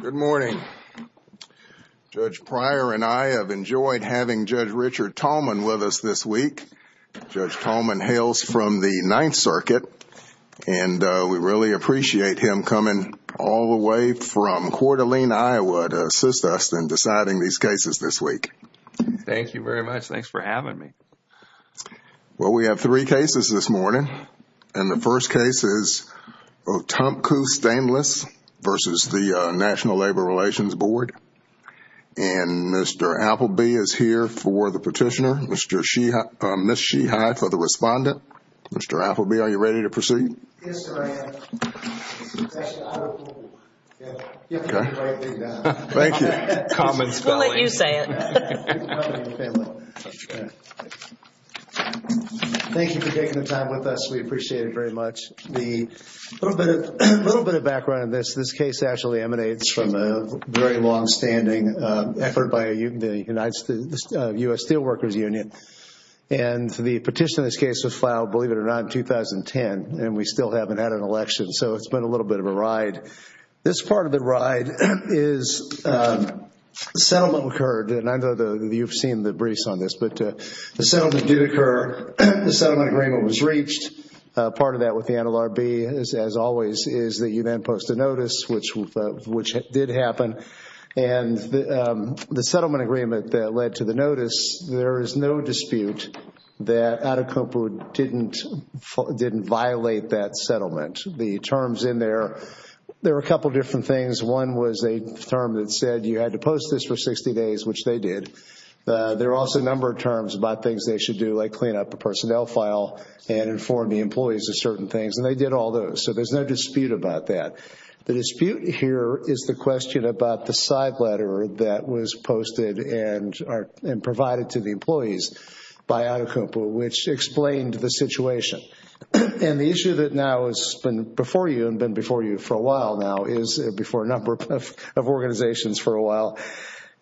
Good morning. Judge Pryor and I have enjoyed having Judge Richard Tallman with us this week. Judge Tallman hails from the Ninth Circuit and we really appreciate him coming all the way from Coeur d'Alene, Iowa to assist us in deciding these cases this week. Thank you very much. Thanks for having me. Well, we have three cases this morning. And the first case is Otumpu Stainless versus the National Labor Relations Board. And Mr. Appleby is here for the petitioner, Ms. Sheehye for the respondent. Mr. Appleby, are you ready to proceed? Yes, sir, I am. Actually, I will pull one. You have to write it down. Thank you. Common spelling. We'll let you say it. Thank you for taking the time with us. We appreciate it very much. A little bit of background on this. This case actually emanates from a very longstanding effort by the U.S. Steelworkers Union. And the petition in this case was filed, believe it or not, in 2010. And we still haven't had an election, so it's been a little bit of a ride. This part of the ride is the settlement occurred. And I know you've seen the briefs on this, but the settlement did occur. The settlement agreement was reached. Part of that with the NLRB, as always, is that you then post a notice, which did happen. And the settlement agreement that led to the notice, there is no dispute that Otumpu didn't violate that settlement. The terms in there, there had to post this for 60 days, which they did. There are also a number of terms about things they should do, like clean up a personnel file and inform the employees of certain things. And they did all those. So there's no dispute about that. The dispute here is the question about the side letter that was posted and provided to the employees by Otumpu, which explained the situation. And the issue that now has been before you, and been before you for a while now, is before a number of organizations for a while,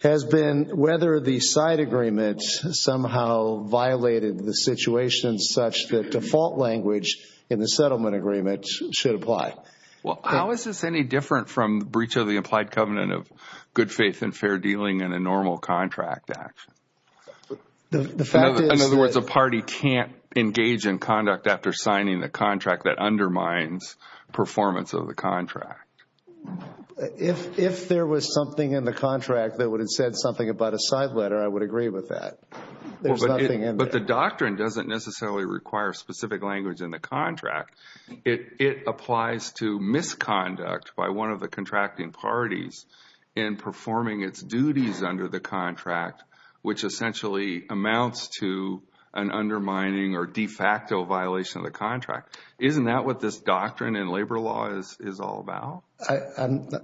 has been whether the side agreement somehow violated the situation such that default language in the settlement agreement should apply. Well, how is this any different from the breach of the implied covenant of good faith and fair dealing in a normal contract? In other words, a party can't engage in conduct after signing the contract that undermines performance of the contract. If there was something in the contract that would have said something about a side letter, I would agree with that. There's nothing in there. But the doctrine doesn't necessarily require specific language in the contract. It applies to misconduct by one of the contracting parties in performing its duties under the contract, which essentially amounts to an undermining or de facto violation of the contract. Isn't that what this doctrine in labor law is all about?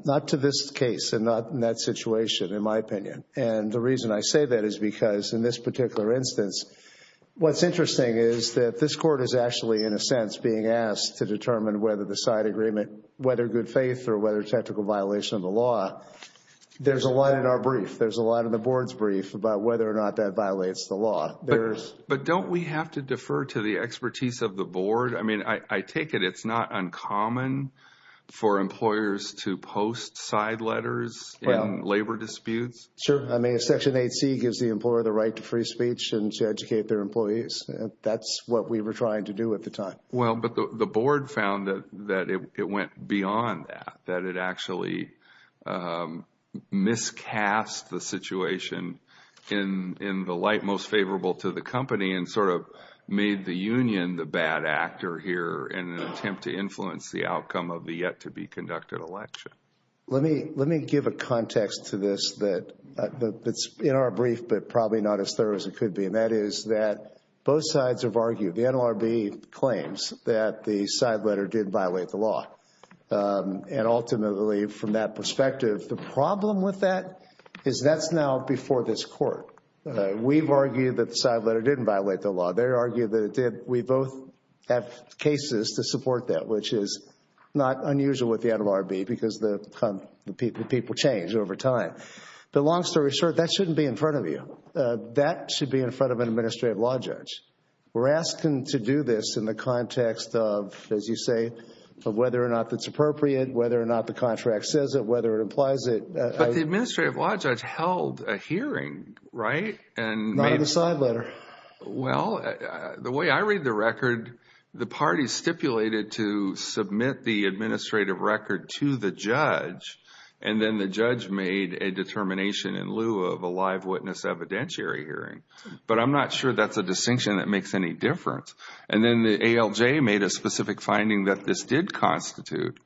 Not to this case and not in that situation, in my opinion. And the reason I say that is because in this particular instance, what's interesting is that this Court is actually, in a sense, being asked to determine whether the side agreement, whether good faith or whether technical violation of the law, there's a lot in our brief, there's a lot in the brief about whether or not that violates the law. But don't we have to defer to the expertise of the Board? I mean, I take it it's not uncommon for employers to post side letters in labor disputes? Sure. I mean, Section 8C gives the employer the right to free speech and to educate their employees. That's what we were trying to do at the time. Well, but the Board found that it went beyond that, that it actually miscast the situation in the light most favorable to the company and sort of made the union the bad actor here in an attempt to influence the outcome of the yet to be conducted election. Let me give a context to this that's in our brief, but probably not as thorough as it is that the side letter did violate the law. And ultimately, from that perspective, the problem with that is that's now before this Court. We've argued that the side letter didn't violate the law. They argued that it did. We both have cases to support that, which is not unusual with the NLRB because the people change over time. But long story short, that shouldn't be in front of you. That should be in front of an as you say, of whether or not it's appropriate, whether or not the contract says it, whether it implies it. But the Administrative Law Judge held a hearing, right? Not on the side letter. Well, the way I read the record, the party stipulated to submit the administrative record to the judge, and then the judge made a determination in lieu of a live witness evidentiary hearing. But I'm not sure that's a distinction that makes any difference. And then the ALJ made a specific finding that this did constitute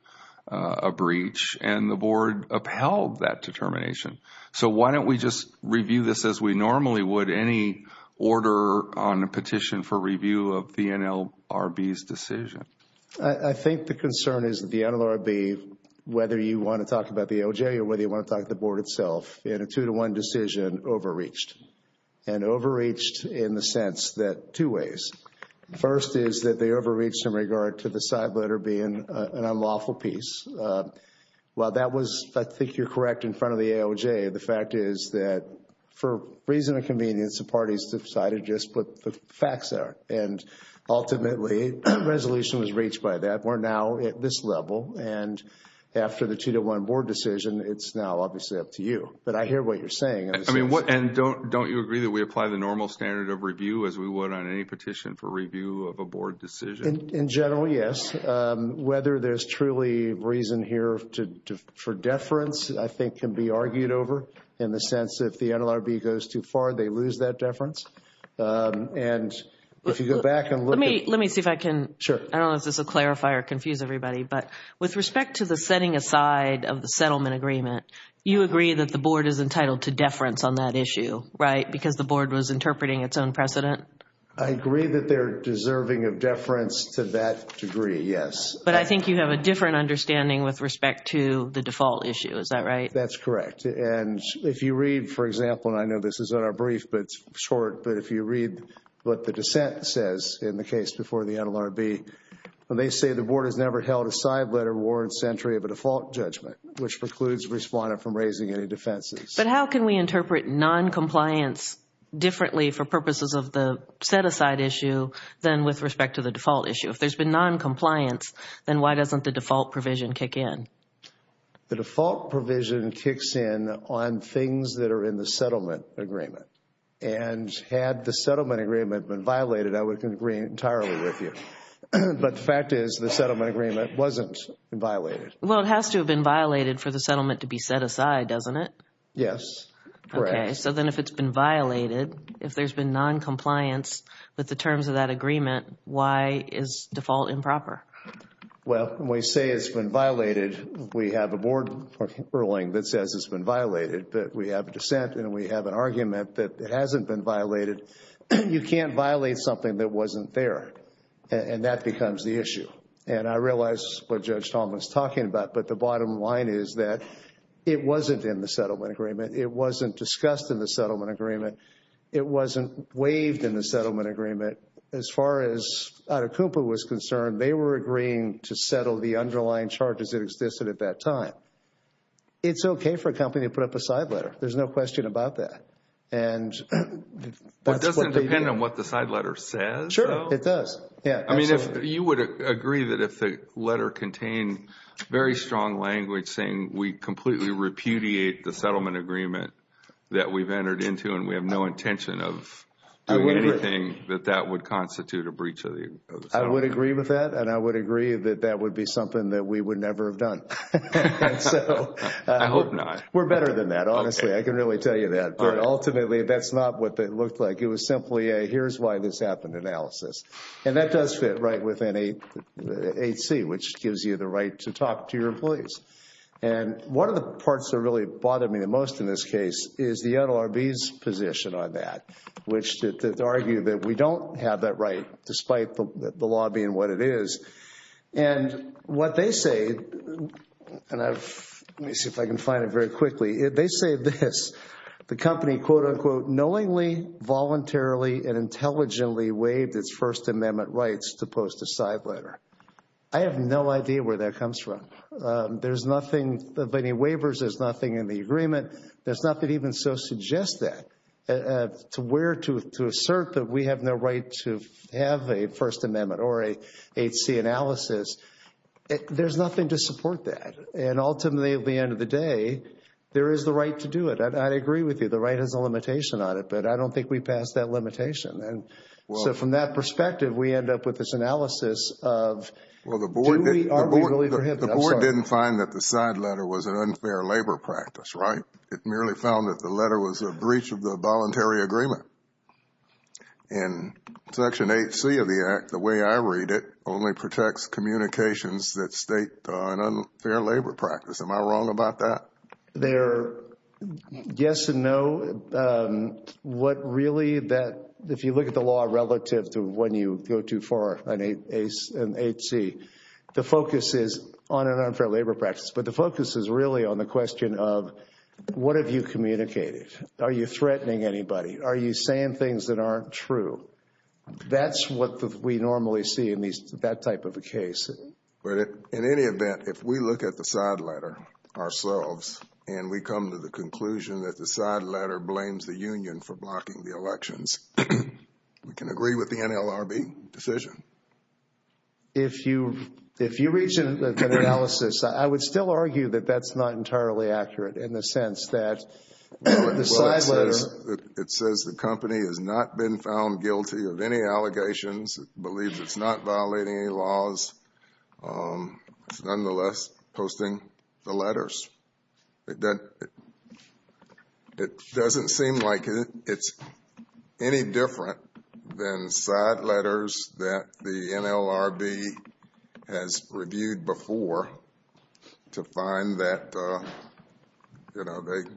a breach, and the Board upheld that determination. So why don't we just review this as we normally would any order on a petition for review of the NLRB's decision? I think the concern is that the NLRB, whether you want to talk about the OJ or whether you want to talk about the Board itself, in a two-to-one decision, overreached. And overreached in the sense that two ways. First is that they overreached in regard to the side letter being an unlawful piece. While that was, I think you're correct, in front of the ALJ, the fact is that for reason of convenience, the parties decided to just put the facts there. And ultimately, the resolution was reached by that. We're now at this level, and after the two-to-one Board decision, it's now obviously up to you. But I hear what you're saying. And don't you agree that we apply the normal standard of review as we would on any petition for review of a Board decision? In general, yes. Whether there's truly reason here for deference, I think, can be argued over in the sense that if the NLRB goes too far, they lose that deference. And if you go back and look at... Let me see if I can... Sure. I don't know if this will clarify or confuse everybody, but with respect to the setting aside of the settlement agreement, you agree that the Board is entitled to deference on that issue, right? Because the Board was interpreting its own precedent? I agree that they're deserving of deference to that degree, yes. But I think you have a different understanding with respect to the default issue. Is that right? That's correct. And if you read, for example, and I know this is in our brief, but it's short, but if you read what the dissent says in the case before the NLRB, they say the Board has never held a side letter warrants entry of a default judgment, which precludes the respondent from raising any defenses. But how can we interpret noncompliance differently for purposes of the set-aside issue than with respect to the default issue? If there's been noncompliance, then why doesn't the default provision kick in? The default provision kicks in on things that are in the settlement agreement. And had the settlement agreement been violated, I would agree entirely with you. But the fact is, the settlement agreement wasn't violated. Well, it has to have been violated for the settlement to be set aside, doesn't it? Yes. Correct. Okay. So then if it's been violated, if there's been noncompliance with the terms of that agreement, why is default improper? Well, when we say it's been violated, we have a Board ruling that says it's been violated. But we have a dissent and we have an argument that it hasn't been violated. You can't violate something that wasn't there. And that becomes the issue. And I realize what Judge Talmadge is talking about, but the bottom line is that it wasn't in the settlement agreement. It wasn't discussed in the settlement agreement. It wasn't waived in the settlement agreement. As far as Atacumpa was concerned, they were agreeing to settle the underlying charges that existed at that time. It's okay for a company to put up a side letter. There's no question about that. And that's what we do. Well, it doesn't depend on what the side letter says, though. Sure, it does. Yeah. I mean, you would agree that if the letter contained very strong language saying we completely repudiate the settlement agreement that we've entered into and we have no intention of doing anything, that that would constitute a breach of the settlement agreement. I would agree with that. And I would agree that that would be something that we would never have done. I hope not. We're better than that, honestly. I can really tell you that. But ultimately, that's not what it looked like. It was simply a here's why this happened analysis. And that does fit right within the 8C, which gives you the right to talk to your employees. And one of the parts that really bothered me the most in this case is the NLRB's position on that, which argued that we don't have that right despite the law being what it is. And what they say, and let me see if I can find it very quickly, they say this. The company, quote, unquote, knowingly, voluntarily, and intelligently waived its First Amendment rights to post a side letter. I have no idea where that comes from. There's nothing, of any waivers, there's nothing in the agreement. There's nothing even so suggests that to where to assert that we have no right to have a First Amendment or a 8C analysis. There's nothing to support that. And ultimately, at the end of the day, there is the right to do it. And I agree with you. The right has a limitation on it, but I don't think we passed that limitation. And so from that perspective, we end up with this analysis of do we, are we really prohibited? I'm sorry. I didn't find that the side letter was an unfair labor practice, right? It merely found that the letter was a breach of the voluntary agreement. And Section 8C of the Act, the way I read it, only protects communications that state an unfair labor practice. Am I wrong about that? They're yes and no. What really that, if you look at the law relative to when you go too far, an 8C, the focus is on an unfair labor practice. But the focus is really on the question of what have you communicated? Are you threatening anybody? Are you saying things that aren't true? That's what we normally see in that type of a case. But in any event, if we look at the side letter ourselves and we come to the conclusion that the side letter blames the union for blocking the elections, we can agree with the NLRB decision. If you, if you reach an analysis, I would still argue that that's not entirely accurate in the sense that the side letter... It says the company has not been found guilty of any allegations, believes it's not violating any laws, it's nonetheless posting the letters. It doesn't seem like it's any different than side letters that the NLRB has reviewed before to find that, you know, they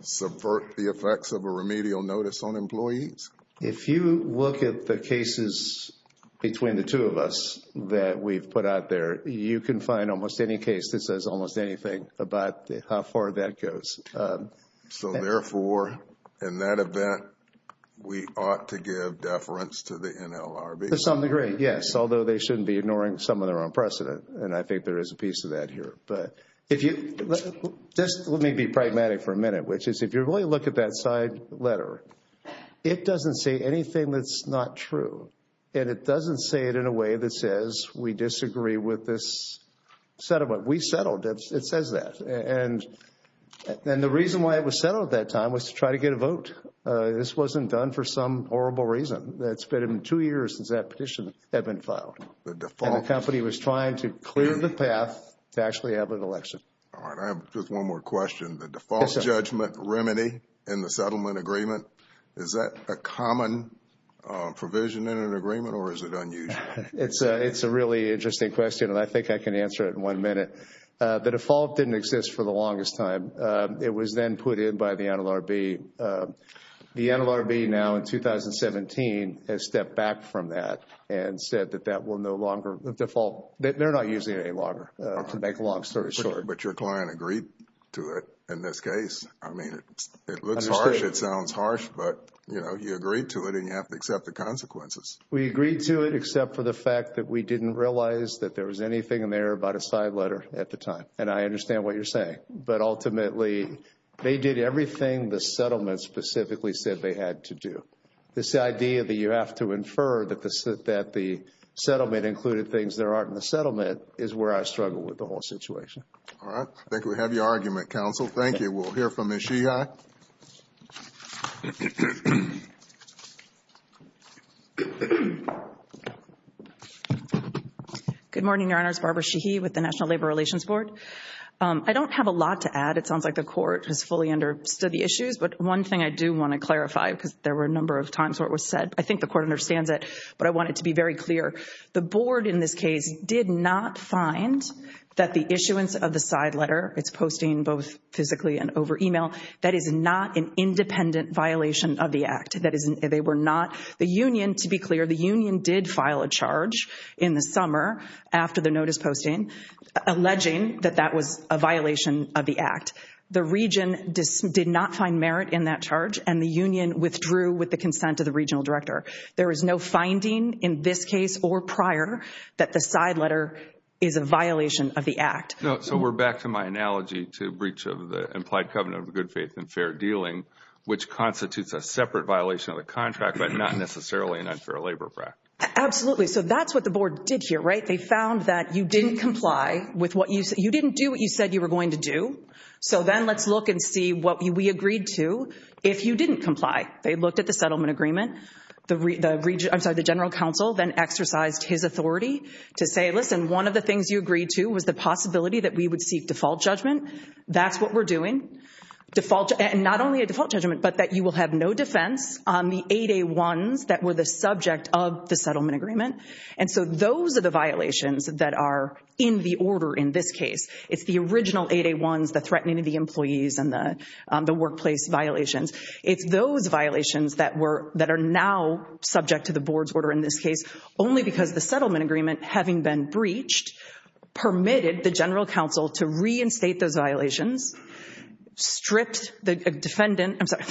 subvert the effects of a remedial notice on employees. If you look at the cases between the two of us that we've put out there, you can find almost any case that says almost anything about how far that goes. So therefore, in that event, we ought to give deference to the NLRB. To some degree, yes. Although they shouldn't be ignoring some of their own precedent. And I think there is a piece of that here. But if you, just let me be pragmatic for a minute, which is if you really look at that side letter, it doesn't say anything that's not true. And it doesn't say it in a way that says we disagree with this settlement. We settled it. It says that. And the reason why it was settled at that time was to try to get a vote. This wasn't done for some horrible reason. That's been two years since that petition had been filed. The company was trying to clear the path to actually have an election. All right. I have just one more question. The default judgment remedy in the settlement agreement, is that a common provision in an agreement or is it unusual? It's a really interesting question and I think I can answer it in one minute. The default didn't exist for the longest time. It was then put in by the NLRB. The NLRB now in 2017 has stepped back from that and said that that will no longer, the default, they're not using it any longer, to make a long story short. But your client agreed to it in this case. I mean, it looks harsh. It sounds harsh. But, you know, you agreed to it and you have to accept the consequences. We agreed to it except for the fact that we didn't realize that there was anything in there about a side letter at the time. And I understand what you're saying. But ultimately, they did everything the settlement specifically said they had to do. This idea that you have to infer that the settlement included things that aren't in the settlement is where I struggle with the whole situation. All right. I think we have your argument, counsel. Thank you. We'll hear from Ms. Sheehy. Good morning, Your Honors. Barbara Sheehy with the National Labor Relations Board. I don't have a lot to add. It sounds like the court has fully understood the issues. But one thing I do want to clarify, because there were a number of times where it was said, I think the court understands it, but I want it to be very clear. The board in this case did not find that the issuance of the side letter, it's posting both physically and over email, that is not an independent violation of the act. They were not. The union, to be clear, the union did file a charge in the summer after the notice posting alleging that that was a violation of the act. The region did not find merit in that charge and the union withdrew with the consent of the regional director. There is no finding in this case or prior that the side letter is a violation of the act. So we're back to my analogy to breach of the implied covenant of good faith and fair dealing, which constitutes a separate violation of the contract, but not necessarily an unfair labor practice. Absolutely. So that's what the board did here, right? They found that you didn't comply with what you said. You didn't do what you said you were going to do. So then let's look and see what we agreed to if you didn't comply. They looked at the settlement agreement. The general counsel then exercised his authority to say, listen, one of the things you agreed to was the possibility that we would seek default judgment. That's what we're doing. Not only a default judgment, but that you will have no defense on the 8A1s that were the subject of the settlement agreement. And so those are the violations that are in the order in this case. It's the original 8A1s, the threatening of the employees and the workplace violations. It's those violations that are now subject to the board's order in this case, only because the settlement agreement, having been breached, permitted the general counsel to reinstate those violations, stripped the defendant, I'm sorry,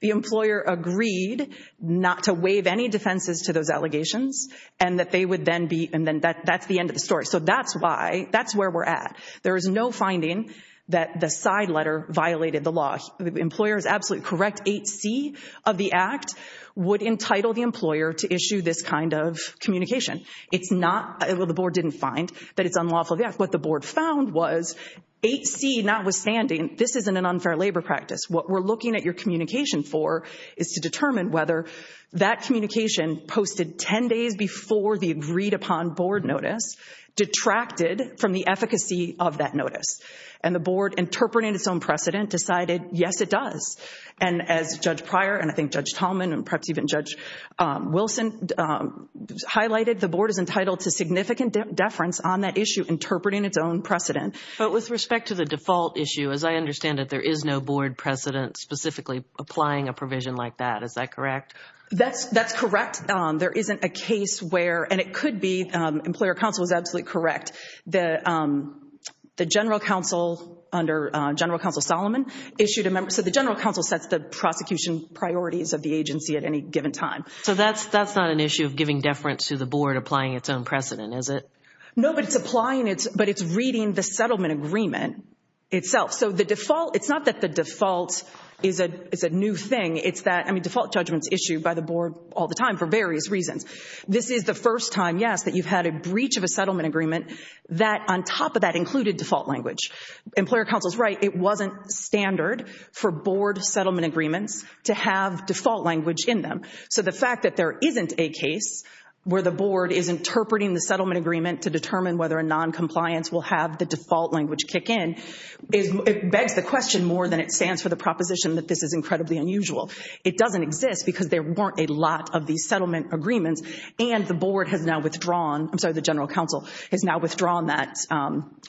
the employer agreed not to waive any defenses to those allegations, and that they would then be, and then that's the end of the story. So that's why, that's where we're at. There is no finding that the side letter violated the law. Employer is absolutely correct, 8C of the act would entitle the employer to issue this kind of communication. It's not, the board didn't find that it's unlawful of the act. What the board found was 8C notwithstanding, this isn't an unfair labor practice. What we're looking at your communication for is to determine whether that communication posted 10 days before the agreed upon board notice detracted from the efficacy of that notice. And the board, interpreting its own precedent, decided yes it does. And as Judge Pryor, and I think Judge Tallman, and perhaps even Judge Wilson highlighted, the board is entitled to significant deference on that issue, interpreting its own precedent. But with respect to the default issue, as I understand it, there is no board precedent specifically applying a provision like that, is that correct? That's correct. There isn't a case where, and it could be, employer counsel is absolutely correct. The general counsel, under General Counsel Solomon, issued a member, so the general counsel sets the prosecution priorities of the agency at any given time. So that's not an issue of giving deference to the board, applying its own precedent, is it? No, but it's applying, but it's reading the settlement agreement itself. So the default, it's not that the default is a new thing, it's that, I mean, default judgments issued by the board all the time for various reasons. This is the first time, yes, that you've had a breach of a settlement agreement that, on top of that, included default language. Employer counsel is right. It wasn't standard for board settlement agreements to have default language in them. So the fact that there isn't a case where the board is interpreting the settlement agreement to determine whether a noncompliance will have the default language kick in, it begs the question more than it stands for the proposition that this is incredibly unusual. It doesn't exist because there weren't a lot of these settlement agreements, and the board has now withdrawn, I'm sorry, the general counsel has now withdrawn that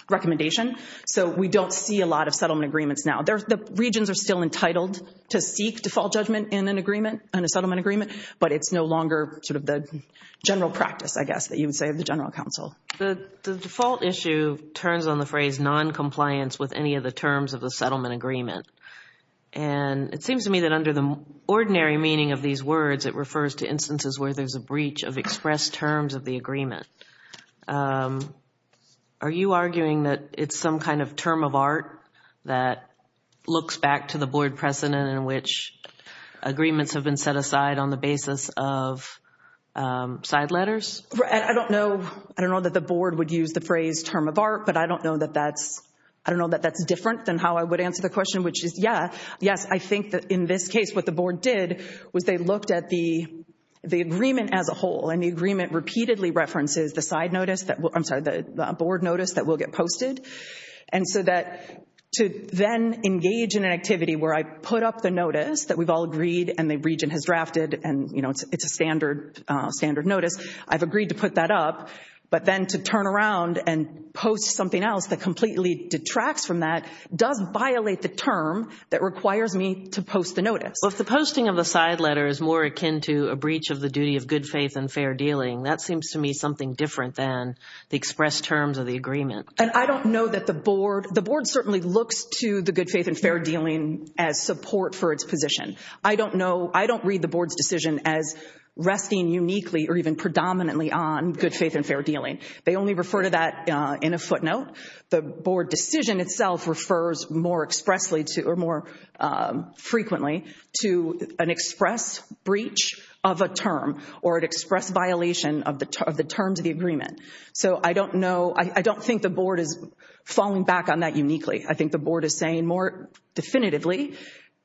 recommendation. So we don't see a lot of settlement agreements now. The regions are still entitled to seek default judgment in an agreement, in a settlement agreement, but it's no longer sort of the general practice, I guess, that you would say of the general counsel. The default issue turns on the phrase noncompliance with any of the terms of the settlement agreement. And it seems to me that under the ordinary meaning of these words, it refers to instances where there's a breach of expressed terms of the agreement. Are you arguing that it's some kind of term of art that looks back to the board precedent in which agreements have been set aside on the basis of side letters? I don't know. I don't know that the board would use the phrase term of art, but I don't know that that's different than how I would answer the question, which is, yeah, yes, I think that in this case what the board did was they looked at the agreement as a whole, and the agreement repeatedly references the side notice, I'm sorry, the board notice that will get posted. And so that to then engage in an activity where I put up the notice that we've all agreed and the region has drafted, and it's a standard notice, I've agreed to put that up, but then to turn around and post something else that completely detracts from that does violate the term that requires me to post the notice. Well, if the posting of the side letter is more akin to a breach of the duty of good faith and fair dealing, that seems to me something different than the expressed terms of the agreement. And I don't know that the board, the board certainly looks to the good faith and fair dealing as support for its position. I don't know, I don't read the board's decision as resting uniquely or even predominantly on good faith and fair dealing. They only refer to that in a footnote. The board decision itself refers more expressly to or more frequently to an express breach of a term or an express violation of the terms of the agreement. So I don't know, I don't think the board is falling back on that uniquely. I think the board is saying more definitively,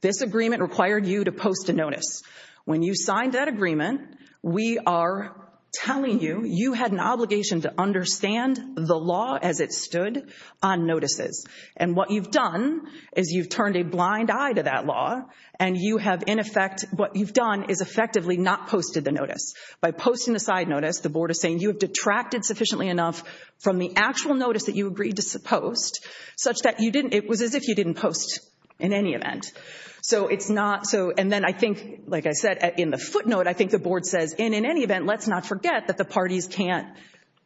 this agreement required you to post a notice. When you signed that agreement, we are telling you, you had an obligation to understand the law as it stood on notices. And what you've done is you've turned a blind eye to that law and you have in effect, what you've done is effectively not posted the notice. By posting the side notice, the board is saying you have detracted sufficiently enough from the actual notice that you agreed to post such that you didn't, it was as if you didn't post in any event. So it's not, so, and then I think, like I said, in the footnote, I think the board says in any event, let's not forget that the parties can't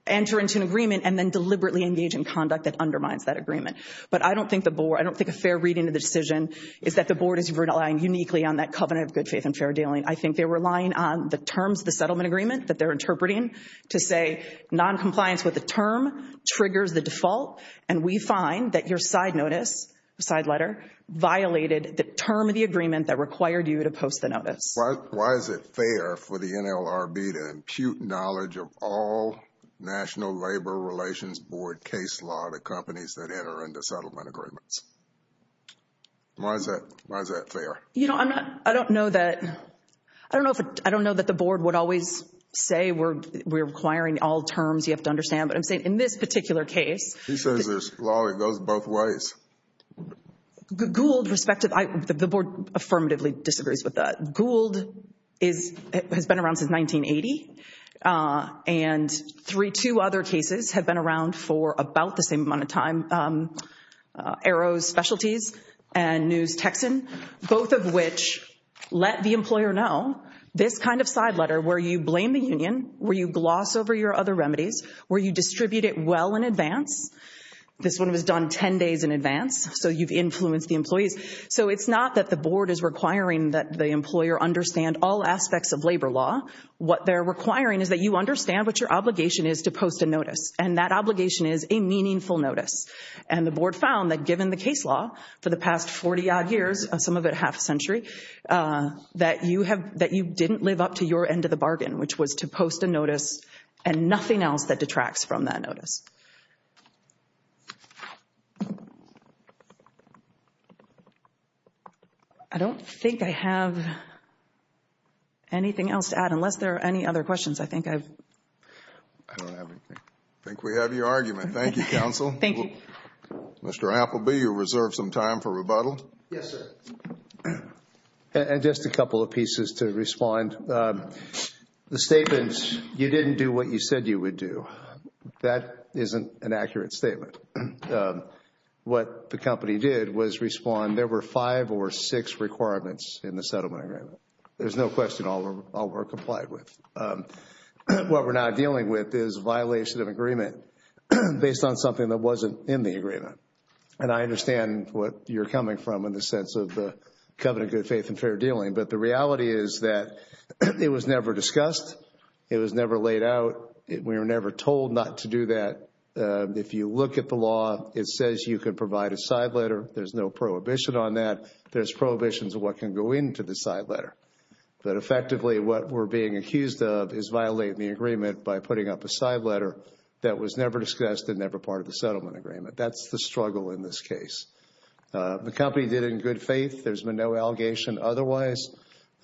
enter into an agreement and then deliberately engage in conduct that undermines that agreement. But I don't think the board, I don't think a fair reading of the decision is that the board is relying uniquely on that covenant of good faith and fair dealing. I think they're relying on the terms of the settlement agreement that they're interpreting to say noncompliance with the term triggers the default. And we find that your side notice, side letter, violated the term of the agreement that required you to post the notice. Why is it fair for the NLRB to impute knowledge of all National Labor Relations Board case law to companies that enter into settlement agreements? Why is that fair? You know, I'm not, I don't know that, I don't know if, I don't know that the board would always say we're requiring all terms, you have to understand, but I'm saying in this particular case. He says there's law that goes both ways. Gould, respective, the board affirmatively disagrees with that. Gould is, has been around since 1980. And three, two other cases have been around for about the same amount of time, Arrows Specialties and News Texan, both of which let the employer know this kind of side letter where you blame the union, where you gloss over your other remedies, where you distribute it well in advance. This one was done 10 days in advance, so you've influenced the employees. So it's not that the board is requiring that the employer understand all aspects of labor law. What they're requiring is that you understand what your obligation is to post a notice. And that obligation is a meaningful notice. And the board found that given the case law for the past 40 odd years, some of it half a century, that you have, that you didn't live up to your end of the bargain, which was to post a notice and nothing else that detracts from that notice. I don't think I have anything else to add, unless there are any other questions. I think I've... I don't have anything. I think we have your argument. Thank you, counsel. Thank you. Mr. Appleby, you reserve some time for rebuttal. Yes, sir. And just a couple of pieces to respond. The statements, you didn't do what you said you would do, that isn't an accurate statement. What the company did was respond, there were five or six requirements in the settlement agreement. There's no question all were complied with. What we're now dealing with is violation of agreement based on something that wasn't in the agreement. And I understand what you're coming from in the sense of the covenant of good faith and fair dealing. But the reality is that it was never discussed. It was never laid out. We were never told not to do that. If you look at the law, it says you can provide a side letter. There's no prohibition on that. There's prohibitions of what can go into the side letter. But effectively, what we're being accused of is violating the agreement by putting up a side letter that was never discussed and never part of the settlement agreement. That's the struggle in this case. The company did it in good faith. There's been no allegation otherwise.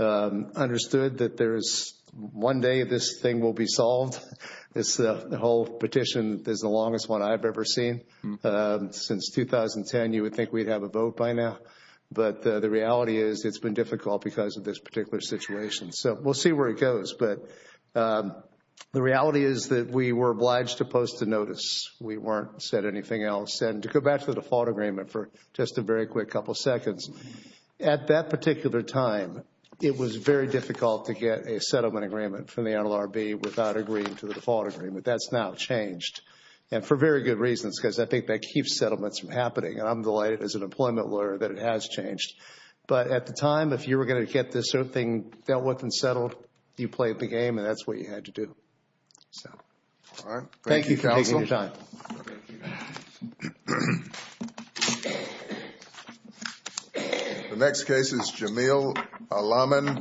Understood that there is one day this thing will be solved. This whole petition is the longest one I've ever seen. Since 2010, you would think we'd have a vote by now. But the reality is it's been difficult because of this particular situation. So we'll see where it goes. But the reality is that we were obliged to post a notice. We weren't said anything else. And to go back to the default agreement for just a very quick couple seconds, at that particular time, it was very difficult to get a settlement agreement from the NLRB without agreeing to the default agreement. That's now changed and for very good reasons because I think that keeps settlements from happening. And I'm delighted as an employment lawyer that it has changed. But at the time, if you were going to get this sort of thing dealt with and settled, you played the game and that's what you had to do. So, all right. Thank you, counsel. Thank you for taking your time. Thank you. The next case is Jamil Alamin.